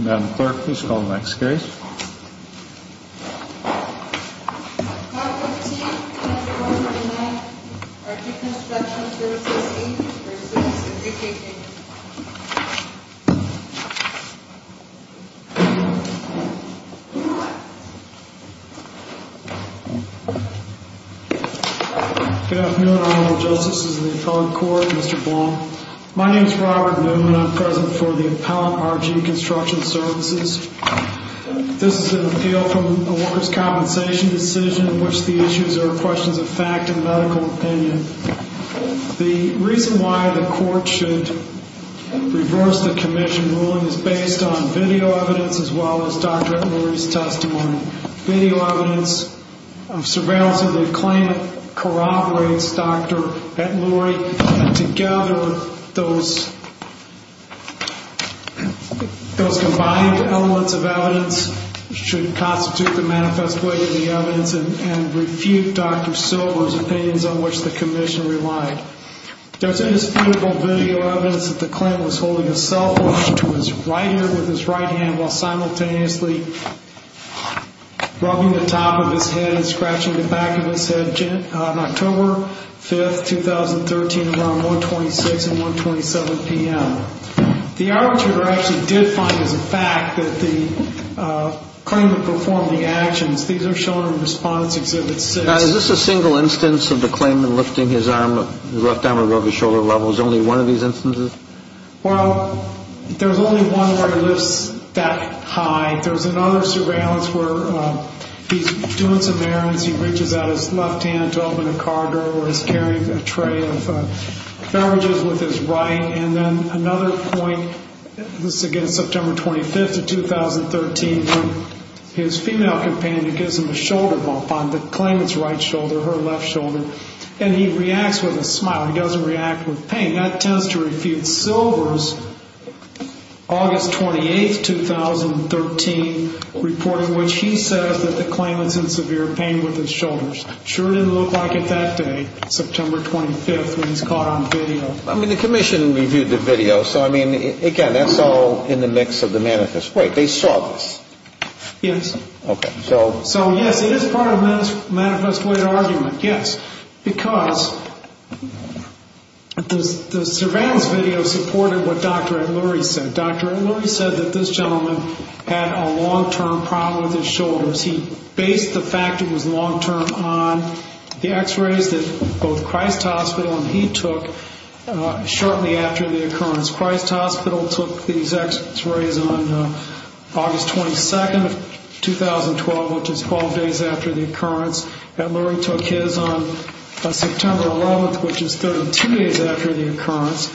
Madam Clerk, please call the next case. Clause 15, Chapter 1 of the Act, RG Construction Services, Inc. v. Workers' Compensation Comm'n Good afternoon, Honorable Justices of the Appellate Court, Mr. Blum. My name is Robert Blum, and I'm President for the Appellate RG Construction Services. This is an appeal from the Workers' Compensation decision in which the issues are questions of fact and medical opinion. The reason why the Court should reverse the Commission ruling is based on video evidence as well as Dr. Etluri's testimony. Video evidence of surveillance of the acclaimed corroborates Dr. Etluri. And together, those combined elements of evidence should constitute the manifest way of the evidence and refute Dr. Silver's opinions on which the Commission relied. There's indisputable video evidence that the claimant was holding a cell phone to his right ear with his right hand while simultaneously rubbing the top of his head and scratching the back of his head on October 5, 2013, around 126 and 127 p.m. The arbitrator actually did find as a fact that the claimant performed the actions. These are shown in Respondent's Exhibit 6. Now, is this a single instance of the claimant lifting his left arm above his shoulder level? Is it only one of these instances? Well, there's only one where he lifts that high. There's another surveillance where he's doing some errands. He reaches out his left hand to open a car door or is carrying a tray of beverages with his right. And then another point, this is again September 25th of 2013, when his female companion gives him a shoulder bump on the claimant's right shoulder, her left shoulder. And he reacts with a smile. He doesn't react with pain. That tends to refute Silver's August 28th, 2013, reporting which he says that the claimant's in severe pain with his shoulders. Sure didn't look like it that day, September 25th, when he's caught on video. I mean, the commission reviewed the video. So, I mean, again, that's all in the mix of the manifest. Wait, they saw this? Yes. Okay. So? So, yes, it is part of the manifest way of argument, yes. Because the surveillance video supported what Dr. Ed Lurie said. Dr. Ed Lurie said that this gentleman had a long-term problem with his shoulders. He based the fact it was long-term on the x-rays that both Christ Hospital and he took shortly after the occurrence. Christ Hospital took these x-rays on August 22nd, 2012, which is 12 days after the occurrence. Ed Lurie took his on September 11th, which is 32 days after the occurrence.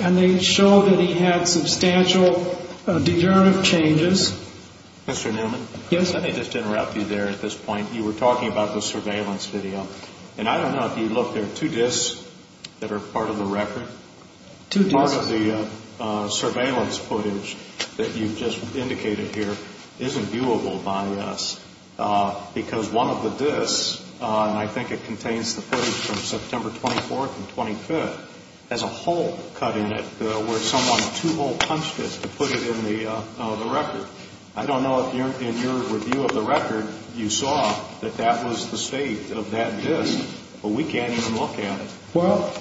And they show that he had substantial degenerative changes. Mr. Newman? Yes, let me just interrupt you there at this point. You were talking about the surveillance video. And I don't know if you looked there. Two disks that are part of the record. Two disks? Part of the surveillance footage that you just indicated here isn't viewable by us because one of the disks, and I think it contains the footage from September 24th and 25th, has a hole cut in it where someone two-hole punched it to put it in the record. I don't know if in your review of the record you saw that that was the state of that disk, but we can't even look at it. Well,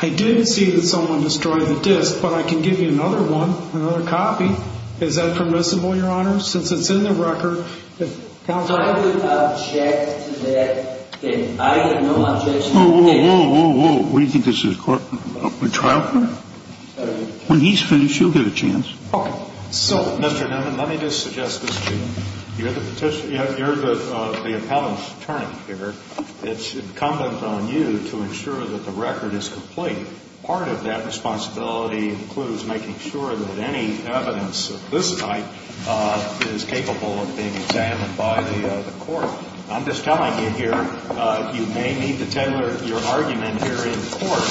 I did see that someone destroyed the disk, but I can give you another one, another copy. Is that permissible, Your Honor, since it's in the record? Counsel, I would object to that. I have no objection to that. Whoa, whoa, whoa, whoa, whoa. What do you think this is, a trial court? When he's finished, you'll get a chance. Okay. So, Mr. Newman, let me just suggest this to you. You're the appellant's attorney here. It's incumbent on you to ensure that the record is complete. Part of that responsibility includes making sure that any evidence of this type is capable of being examined by the court. I'm just telling you here, you may need to tailor your argument here in court,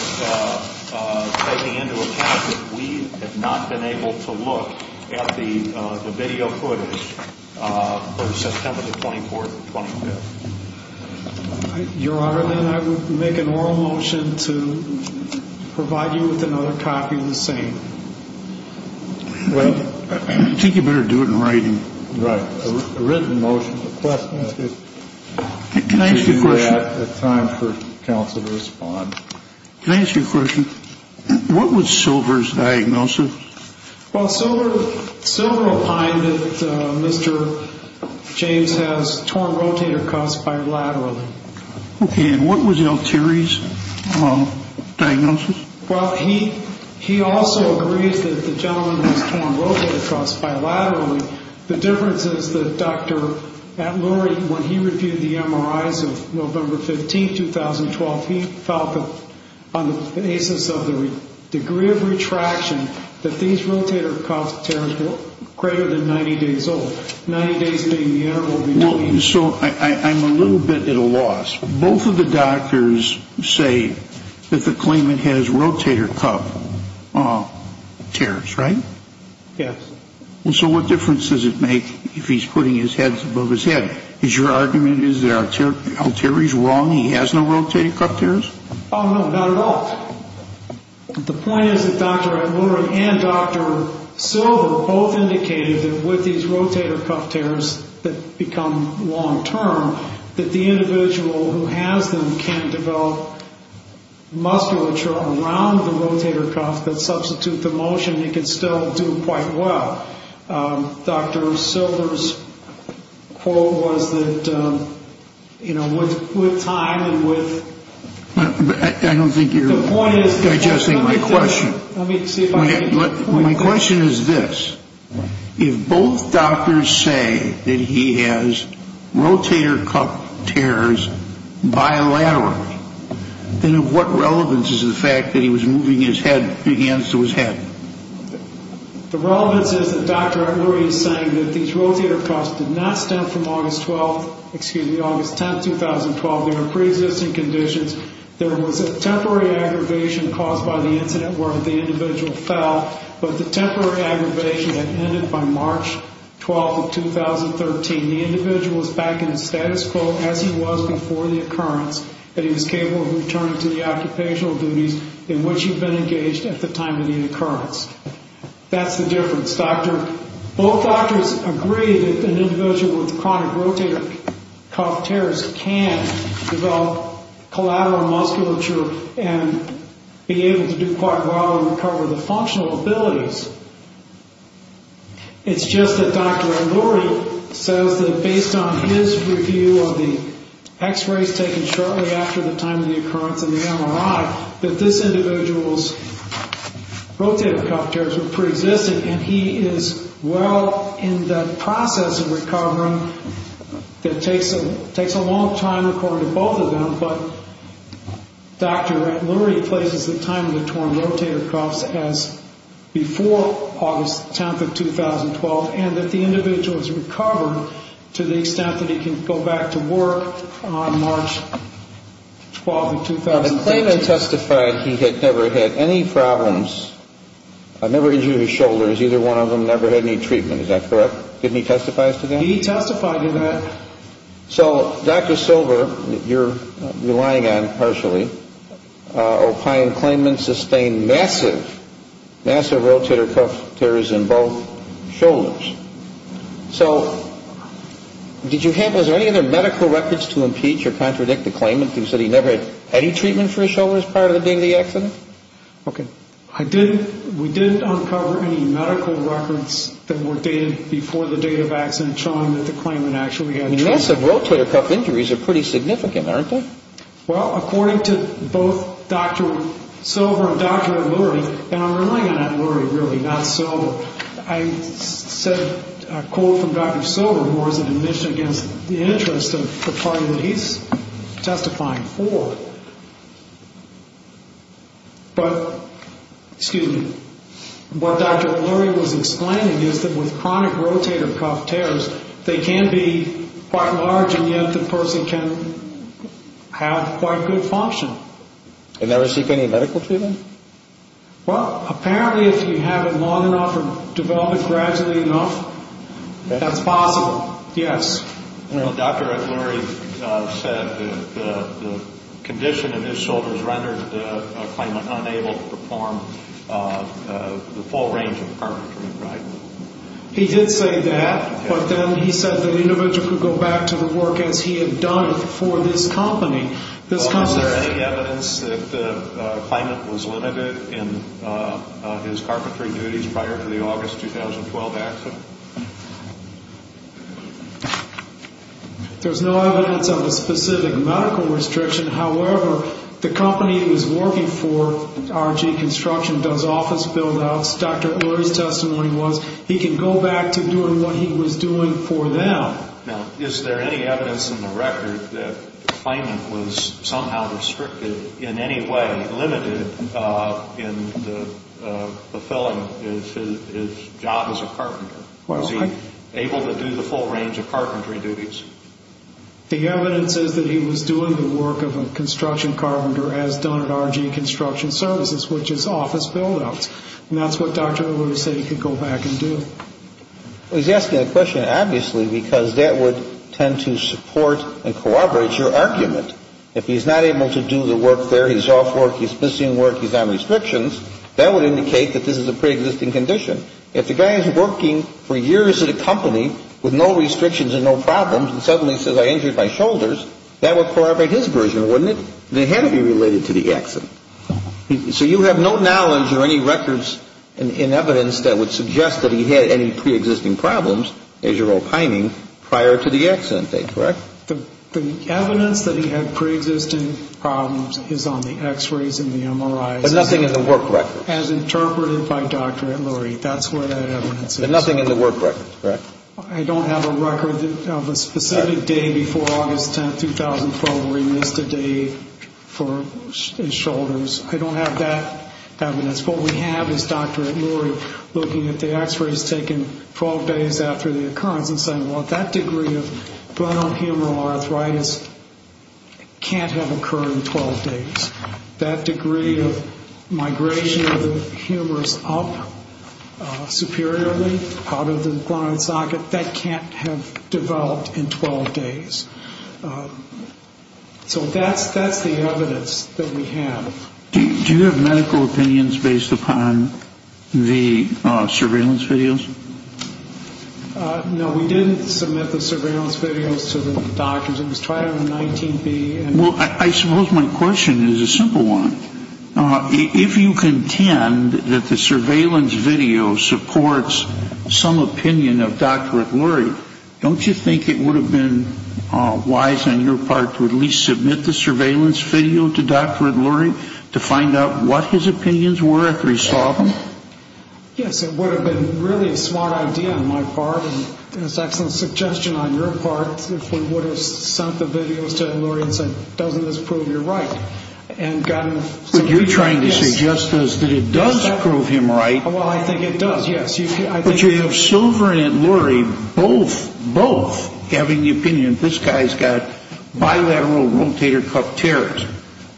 taking into account that we have not been able to look at the video footage for September the 24th or 25th. Your Honor, then I would make an oral motion to provide you with another copy of the same. Well, I think you better do it in writing. Right. It's a written motion request. Can I ask you a question? At time for counsel to respond. Can I ask you a question? What was Silver's diagnosis? Well, Silver opined that Mr. James has torn rotator cuffs bilaterally. Okay. And what was L. Terry's diagnosis? Well, he also agrees that the gentleman has torn rotator cuffs bilaterally. The difference is that Dr. Lurie, when he reviewed the MRIs of November 15th, 2012, he felt that on the basis of the degree of retraction that these rotator cuff tears were greater than 90 days old, 90 days being the interval between. So I'm a little bit at a loss. Both of the doctors say that the claimant has rotator cuff tears, right? Yes. So what difference does it make if he's putting his head above his head? Is your argument is that L. Terry's wrong, he has no rotator cuff tears? Oh, no, not at all. The point is that Dr. Lurie and Dr. Silver both indicated that with these rotator cuff tears that become long-term, that the individual who has them can develop musculature around the rotator cuff that substitute the motion and can still do quite well. Dr. Silver's quote was that, you know, with time and with... I don't think you're digesting my question. Let me see if I can... bilateral. And of what relevance is the fact that he was moving his hands to his head? The relevance is that Dr. Lurie is saying that these rotator cuffs did not stem from August 12th, excuse me, August 10th, 2012. They were preexisting conditions. There was a temporary aggravation caused by the incident where the individual fell, but the temporary aggravation had ended by March 12th of 2013. The individual is back in his status quo as he was before the occurrence, and he was capable of returning to the occupational duties in which he had been engaged at the time of the occurrence. That's the difference. Both doctors agree that an individual with chronic rotator cuff tears can develop collateral musculature and be able to do quite well and recover the functional abilities. It's just that Dr. Lurie says that based on his review of the X-rays taken shortly after the time of the occurrence and the MRI, that this individual's rotator cuff tears were preexisting, and he is well in the process of recovering. It takes a long time according to both of them, but Dr. Lurie places the time of the torn rotator cuffs as before August 10th of 2012, and that the individual has recovered to the extent that he can go back to work on March 12th of 2013. Now, the claimant testified he had never had any problems. I've never injured his shoulders. Either one of them never had any treatment. Is that correct? Didn't he testify to that? He testified to that. So, Dr. Silver, you're relying on partially, opioid claimant sustained massive, massive rotator cuff tears in both shoulders. So, did you have, was there any other medical records to impeach or contradict the claimant who said he never had any treatment for his shoulders prior to the day of the accident? Okay. I did, we did uncover any medical records that were dated before the date of accident showing that the claimant actually had treatment. Massive rotator cuff injuries are pretty significant, aren't they? Well, according to both Dr. Silver and Dr. Lurie, and I'm relying on that Lurie really, not Silver, I said a quote from Dr. Silver who was an admission against the interest of the party that he's testifying for, but, excuse me, what Dr. Lurie was explaining is that with chronic rotator cuff tears, they can be quite large and yet the person can have quite good function. And never seek any medical treatment? Well, apparently if you have it long enough and develop it gradually enough, that's possible, yes. Dr. Lurie said the condition in his shoulders rendered the claimant unable to perform the full range of carpentry, right? He did say that, but then he said the individual could go back to the work as he had done for this company. Is there any evidence that the claimant was limited in his carpentry duties prior to the August 2012 accident? There's no evidence of a specific medical restriction. However, the company he was working for, RG Construction, does office build-outs. Dr. Lurie's testimony was he can go back to doing what he was doing for them. Now, is there any evidence in the record that the claimant was somehow restricted in any way, quite limited in fulfilling his job as a carpenter? Was he able to do the full range of carpentry duties? The evidence is that he was doing the work of a construction carpenter as done at RG Construction Services, which is office build-outs. And that's what Dr. Lurie said he could go back and do. He's asking that question, obviously, because that would tend to support and corroborate your argument. If he's not able to do the work there, he's off work, he's missing work, he's on restrictions, that would indicate that this is a preexisting condition. If the guy is working for years at a company with no restrictions and no problems and suddenly says, I injured my shoulders, that would corroborate his version, wouldn't it? It had to be related to the accident. So you have no knowledge or any records in evidence that would suggest that he had any preexisting problems, as you're opining, prior to the accident date, correct? The evidence that he had preexisting problems is on the x-rays and the MRIs. But nothing in the work record? As interpreted by Dr. Lurie. That's where that evidence is. But nothing in the work record, correct? I don't have a record of a specific day before August 10, 2004, where he missed a day for his shoulders. I don't have that evidence. What we have is Dr. Lurie looking at the x-rays taken 12 days after the occurrence and saying, well, that degree of glenohumeral arthritis can't have occurred in 12 days. That degree of migration of the humerus up superiorly out of the glenoid socket, that can't have developed in 12 days. So that's the evidence that we have. Do you have medical opinions based upon the surveillance videos? No, we didn't submit the surveillance videos to the doctors. It was tried on the 19B. Well, I suppose my question is a simple one. If you contend that the surveillance video supports some opinion of Dr. Lurie, don't you think it would have been wise on your part to at least submit the surveillance video to Dr. Lurie to find out what his opinions were after he saw them? Yes, it would have been really a smart idea on my part, and it's an excellent suggestion on your part, if we would have sent the videos to Lurie and said, doesn't this prove you're right? But you're trying to suggest to us that it does prove him right. Well, I think it does, yes. But you have Silver and Lurie both having the opinion, this guy's got bilateral rotator cuff tears.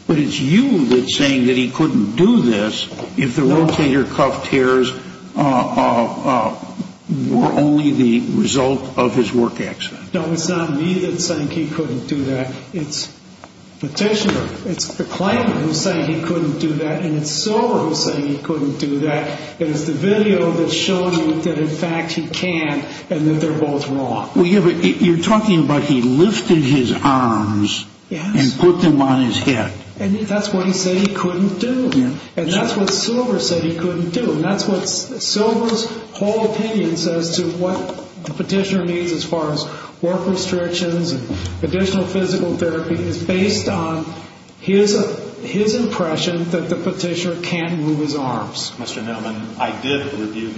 But it's you that's saying that he couldn't do this if the rotator cuff tears were only the result of his work accident. No, it's not me that's saying he couldn't do that. It's Petitioner, it's the claimant who's saying he couldn't do that, and it's Silver who's saying he couldn't do that, and it's the video that's showing that in fact he can and that they're both wrong. You're talking about he lifted his arms and put them on his head. And that's what he said he couldn't do, and that's what Silver said he couldn't do, and that's what Silver's whole opinion says to what the Petitioner means as far as work restrictions and additional physical therapy is based on his impression that the Petitioner can't move his arms. Mr. Newman, I did review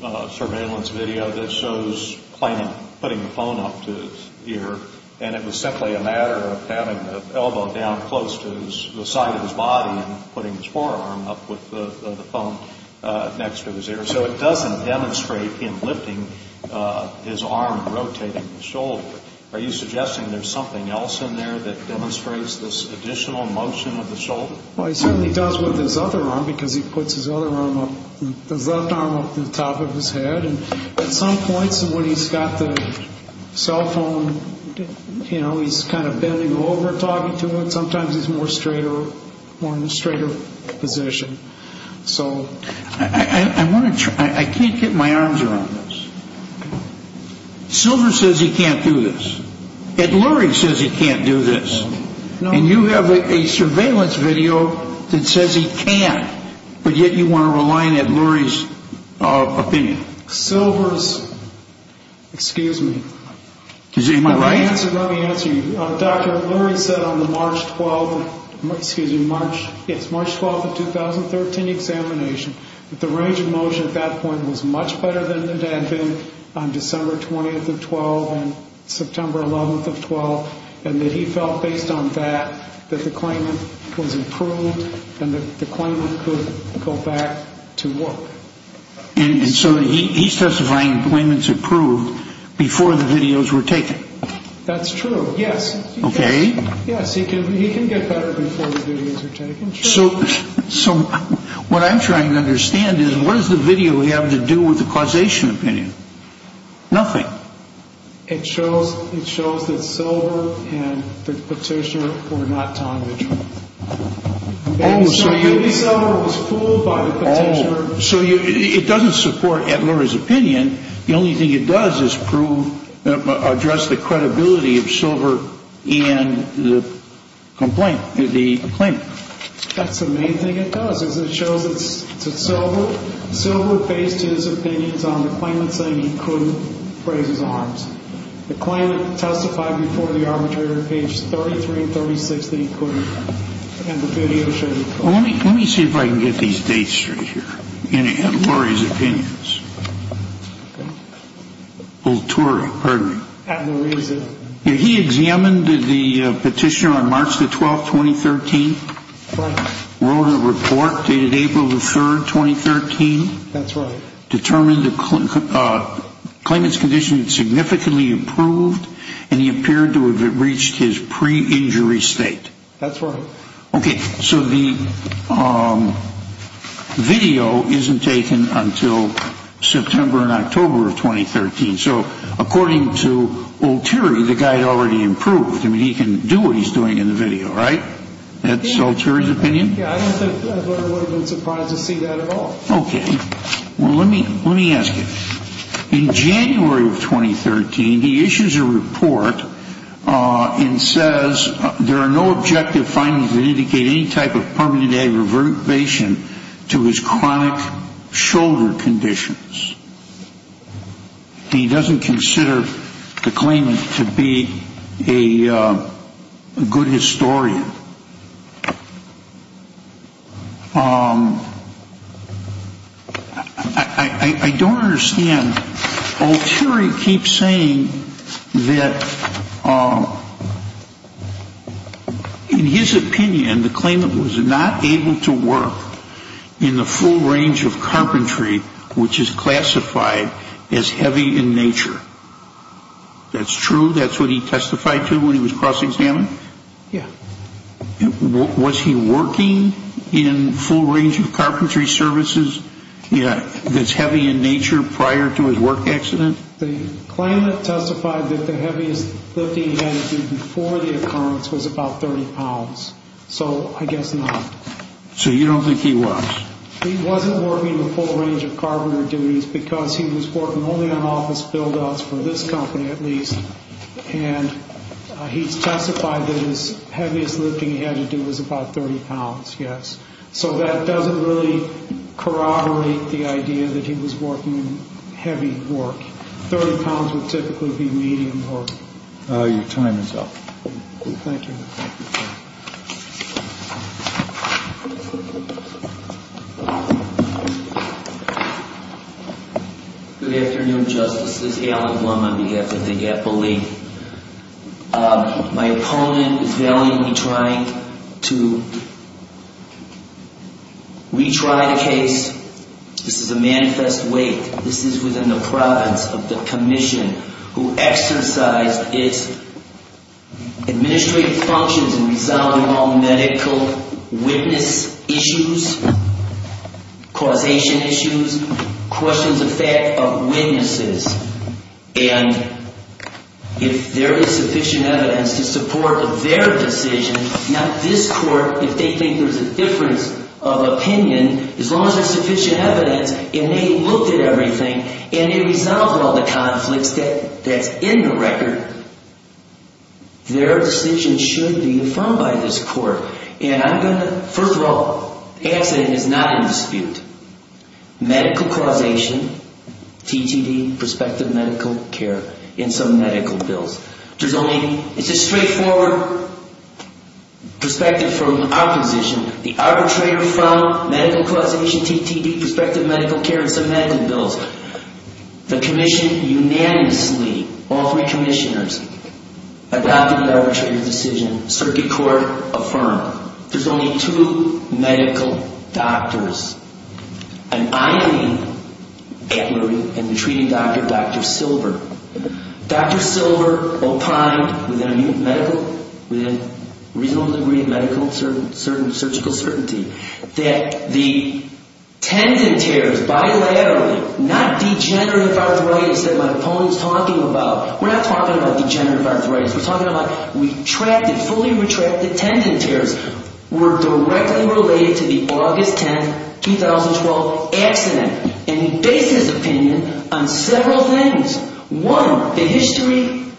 the surveillance video that shows the claimant putting the phone up to his ear, and it was simply a matter of having the elbow down close to the side of his body and putting his forearm up with the phone next to his ear. So it doesn't demonstrate him lifting his arm and rotating his shoulder. Are you suggesting there's something else in there that demonstrates this additional motion of the shoulder? Well, he certainly does with his other arm because he puts his other arm up, his left arm up to the top of his head. And at some points when he's got the cell phone, you know, he's kind of bending over talking to it. Sometimes he's more straighter, more in a straighter position. So I want to try. I can't get my arms around this. Silver says he can't do this. Ed Lurie says he can't do this. And you have a surveillance video that says he can't, but yet you want to rely on Ed Lurie's opinion. Silver's, excuse me. Let me answer you. Dr. Lurie said on the March 12th of 2013 examination that the range of motion at that point was much better than it had been on December 20th of 12 and September 11th of 12, and that he felt based on that that the claimant was improved and that the claimant could go back to work. And so he's testifying the claimant's improved before the videos were taken. That's true, yes. Okay. Yes, he can get better before the videos are taken. So what I'm trying to understand is what does the video have to do with the causation opinion? Nothing. It shows that Silver and the petitioner were not telling the truth. Maybe Silver was fooled by the petitioner. So it doesn't support Ed Lurie's opinion. The only thing it does is address the credibility of Silver and the claimant. That's the main thing it does is it shows that Silver based his opinions on the claimant saying he could raise his arms. The claimant testified before the arbitrator, page 33 and 36, that he could. And the video shows it. Let me see if I can get these dates straight here, Ed Lurie's opinions. Ed Lurie is it? He examined the petitioner on March the 12th, 2013. Right. Wrote a report dated April the 3rd, 2013. That's right. Determined the claimant's condition significantly improved and he appeared to have reached his pre-injury state. That's right. Okay. So the video isn't taken until September and October of 2013. So according to Oteri, the guy had already improved. I mean, he can do what he's doing in the video, right? That's Oteri's opinion? Yeah. I don't think Ed Lurie would have been surprised to see that at all. Okay. Well, let me ask you. In January of 2013, he issues a report and says, there are no objective findings that indicate any type of permanent aggravation to his chronic shoulder conditions. He doesn't consider the claimant to be a good historian. I don't understand. Oteri keeps saying that in his opinion, the claimant was not able to work in the full range of carpentry, which is classified as heavy in nature. That's true? That's what he testified to when he was cross-examined? Yeah. Was he working in full range of carpentry services that's heavy in nature prior to his work accident? The claimant testified that the heaviest lifting he had to do before the occurrence was about 30 pounds. So I guess not. So you don't think he was? He wasn't working in the full range of carpentry duties because he was working only on office build-ups, for this company at least. And he testified that his heaviest lifting he had to do was about 30 pounds, yes. So that doesn't really corroborate the idea that he was working in heavy work. 30 pounds would typically be medium work. Your time is up. Thank you. Good afternoon, Justices. Alan Blum on behalf of the GAP belief. My opponent is valiantly trying to retry the case. This is a manifest weight. This is within the province of the commission who exercised its administrative functions in resolving all medical witness issues, causation issues, questions of fact of witnesses. And if there is sufficient evidence to support their decision, not this court, if they think there's a difference of opinion, as long as there's sufficient evidence and they looked at everything and they resolved all the conflicts that's in the record, their decision should be affirmed by this court. And I'm going to, first of all, the accident is not in dispute. Medical causation, TTD, prospective medical care, and some medical bills. There's only, it's a straightforward perspective from opposition. The arbitrator found medical causation, TTD, prospective medical care, and some medical bills. The commission unanimously, all three commissioners, adopted the arbitrator's decision. Circuit court affirmed. There's only two medical doctors. And I agree, and the treating doctor, Dr. Silver. Dr. Silver opined within a reasonable degree of medical surgical certainty that the tendon tears bilaterally, not degenerative arthritis that my opponent's talking about. We're not talking about degenerative arthritis. We're talking about retracted, fully retracted tendon tears were directly related to the August 10, 2012 accident. And he based his opinion on several things. One, the history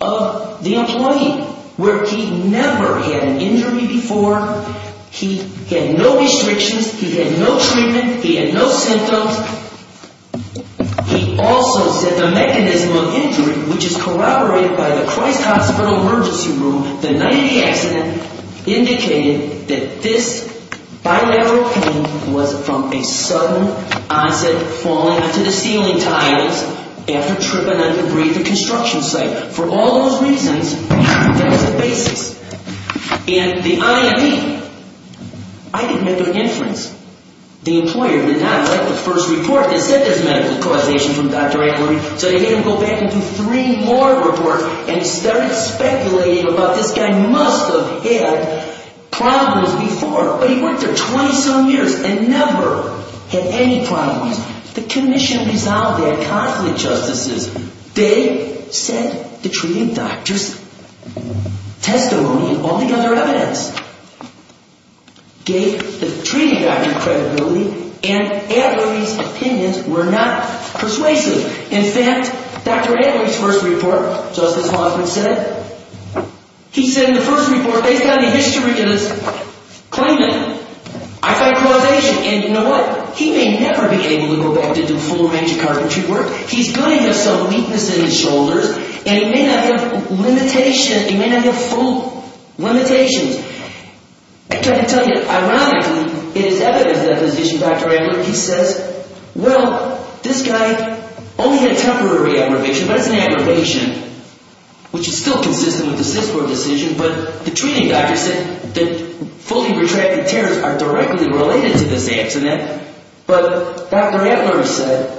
of the employee, where he never had an injury before. He had no restrictions. He had no treatment. He had no symptoms. He also said the mechanism of injury, which is corroborated by the Christ Hospital emergency room, the night of the accident, indicated that this bilateral pain was from a sudden onset falling to the ceiling tiles after tripping under debris at the construction site. For all those reasons, that was the basis. And the IME, I didn't make an inference. The employer did not like the first report. They said there's medical causation from Dr. Acklery, so they made him go back and do three more reports and started speculating about this guy must have had problems before, but he worked there 20-some years and never had any problems. The commission resolved their conflict justices. They said the treating doctor's testimony and all the other evidence gave the treating doctor credibility and Acklery's opinions were not persuasive. In fact, Dr. Acklery's first report, Justice Hoffman said, he said in the first report, based on the history of this claimant, I find causation. And you know what? He may never be able to go back to do full range of carpentry work. He's going to have some weakness in his shoulders, and he may not have limitations. He may not have full limitations. I can tell you, ironically, in his evidence deposition, Dr. Acklery, he says, well, this guy only had a temporary aggravation, but it's an aggravation, which is still consistent with the CISCOR decision, but the treating doctor said that fully retracted tears are directly related to this accident. But Dr. Acklery said,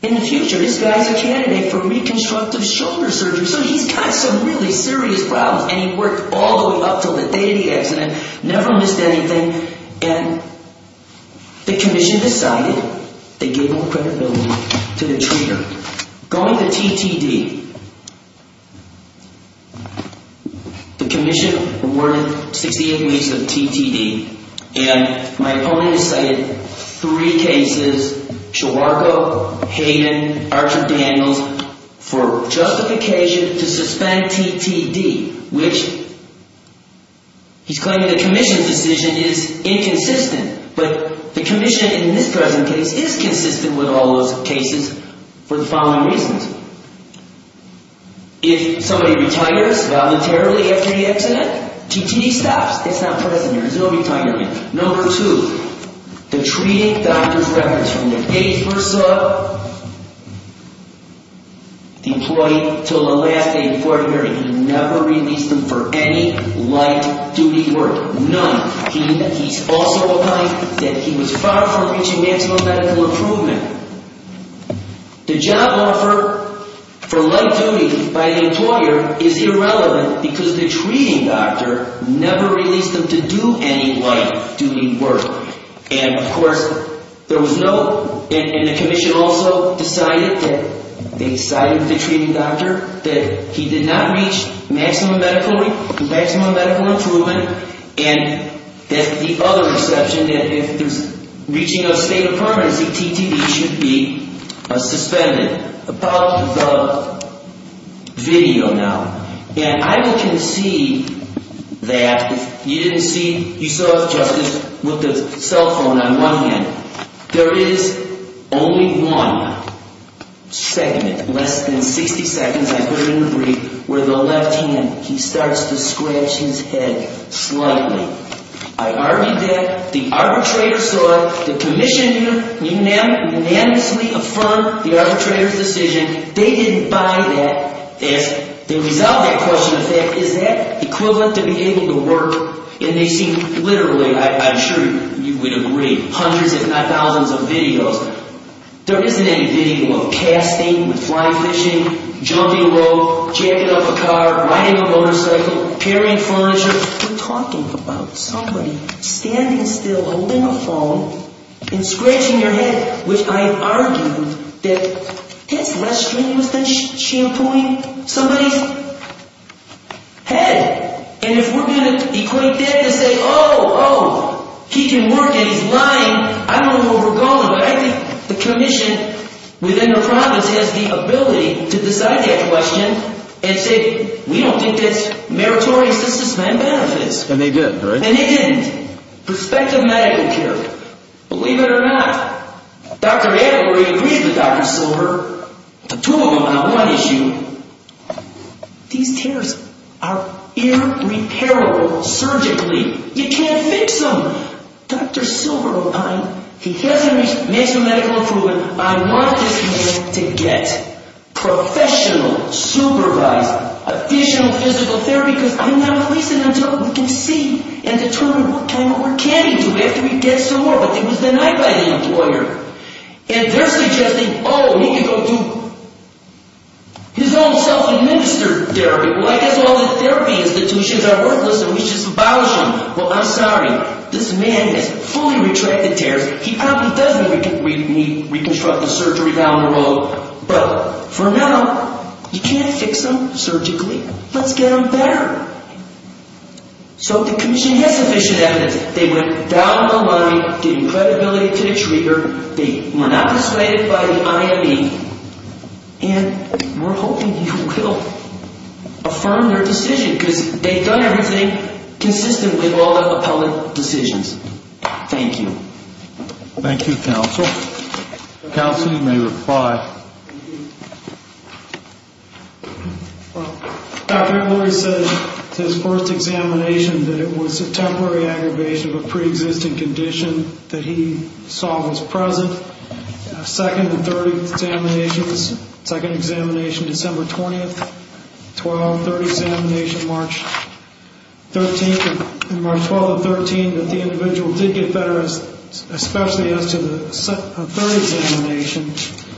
in the future, this guy's a candidate for reconstructive shoulder surgery, so he's got some really serious problems, and he worked all the way up to the day of the accident, never missed anything, and the commission decided they gave him credibility to the treater. Going to TTD, the commission awarded 68 weeks of TTD, and my opponent cited three cases, Chewarko, Hayden, Archer-Daniels, for justification to suspend TTD, which he's claiming the commission's decision is inconsistent, but the commission in this present case is consistent with all those cases for the following reasons. If somebody retires voluntarily after the accident, TTD stops. It's not present here. There's no retirement. Number two, the treating doctor's records from the day he first saw the employee until the last day of the quarter period, he never released him for any light-duty work, none. He's also claimed that he was far from reaching maximum medical improvement. The job offer for light duty by the employer is irrelevant because the treating doctor never released him to do any light-duty work. And, of course, there was no, and the commission also decided that, they cited the treating doctor, that he did not reach maximum medical improvement, and that the other exception, that if there's reaching a state of permanency, the TTD should be suspended. About the video now, and I will concede that if you didn't see, you saw the justice with the cell phone on one hand, there is only one segment, less than 60 seconds, I put it in the brief, where the left hand, he starts to scratch his head slightly. I argued that, the arbitrator saw it, the commission unanimously affirmed the arbitrator's decision. They didn't buy that. As a result of that question, is that equivalent to being able to work? And they seem literally, I'm sure you would agree, hundreds if not thousands of videos. There isn't any video of casting, flying fishing, jumping rope, jacking up a car, riding a motorcycle, carrying furniture. We're talking about somebody standing still, holding a phone, and scratching their head, which I argued that that's less strenuous than shampooing somebody's head. And if we're going to equate that and say, oh, oh, he can work and he's lying, I don't know where we're going, but I think the commission within the province has the ability to decide that question and say, we don't think it's meritorious to suspend benefits. And they did, right? And they didn't. Prospective medical care, believe it or not, Dr. Adler agreed with Dr. Silver, the two of them on one issue. These tears are irreparable surgically. You can't fix them. Dr. Silver, he hasn't made some medical improvement. I want this man to get professional, supervised, additional physical therapy, because I'm not releasing until we can see and determine what kind of work can he do after he gets to work. But it was denied by the employer. And they're suggesting, oh, he can go do his own self-administered therapy. Well, I guess all the therapy institutions are worthless and we should just abolish them. Well, I'm sorry. This man has fully retracted tears. He probably does need to reconstruct the surgery down the road. But for now, you can't fix them surgically. Let's get them better. So the commission has sufficient evidence. They went down the line, gave credibility to the treater. They were not dissuaded by the IME. And we're hoping he will affirm their decision, because they've done everything consistent with all of the public decisions. Thank you. Thank you, counsel. Counsel, you may reply. Well, Dr. Emory said his first examination that it was a temporary aggravation of a preexisting condition that he saw was present. Second and third examinations, second examination December 20th, 12th, third examination March 13th. And March 12th and 13th that the individual did get better, especially as to the third examination.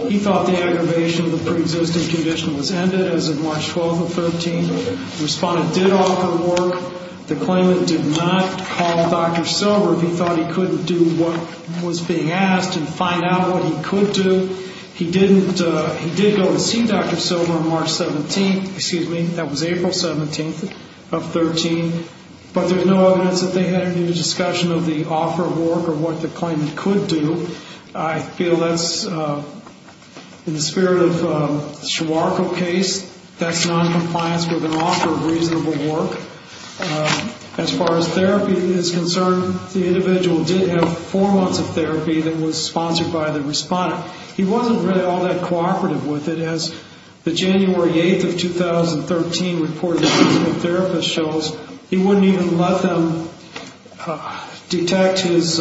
He thought the aggravation of the preexisting condition was ended as of March 12th and 13th. Respondent did offer work. The claimant did not call Dr. Silver if he thought he couldn't do what was being asked and find out what he could do. He did go to see Dr. Silver on March 17th. Excuse me, that was April 17th of 13. But there's no evidence that they had any discussion of the offer of work or what the claimant could do. I feel that's in the spirit of the Siwarko case. That's noncompliance with an offer of reasonable work. As far as therapy is concerned, the individual did have four months of therapy that was sponsored by the respondent. He wasn't really all that cooperative with it. As the January 8th of 2013 report of the physical therapist shows, he wouldn't even let them detect his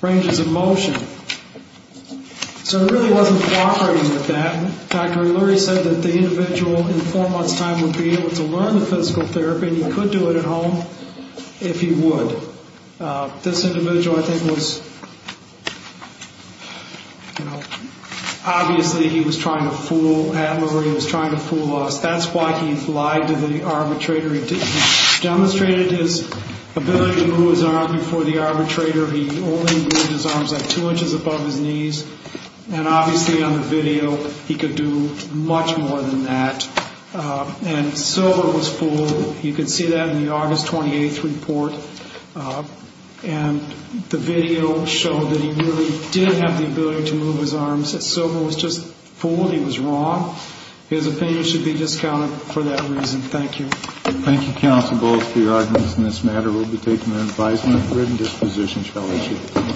ranges of motion. So he really wasn't cooperating with that. Dr. O'Leary said that the individual in four months' time would be able to learn the physical therapy and he could do it at home if he would. This individual I think was, you know, obviously he was trying to fool Adler. He was trying to fool us. That's why he lied to the arbitrator. He demonstrated his ability to move his arm before the arbitrator. He only moved his arms like two inches above his knees. And obviously on the video, he could do much more than that. And Silver was fooled. You can see that in the August 28th report. And the video showed that he really did have the ability to move his arms. Silver was just fooled. He was wrong. His opinion should be discounted for that reason. Thank you. Thank you, counsel, both for your arguments in this matter. We'll be taking an advisement. Written disposition shall be issued.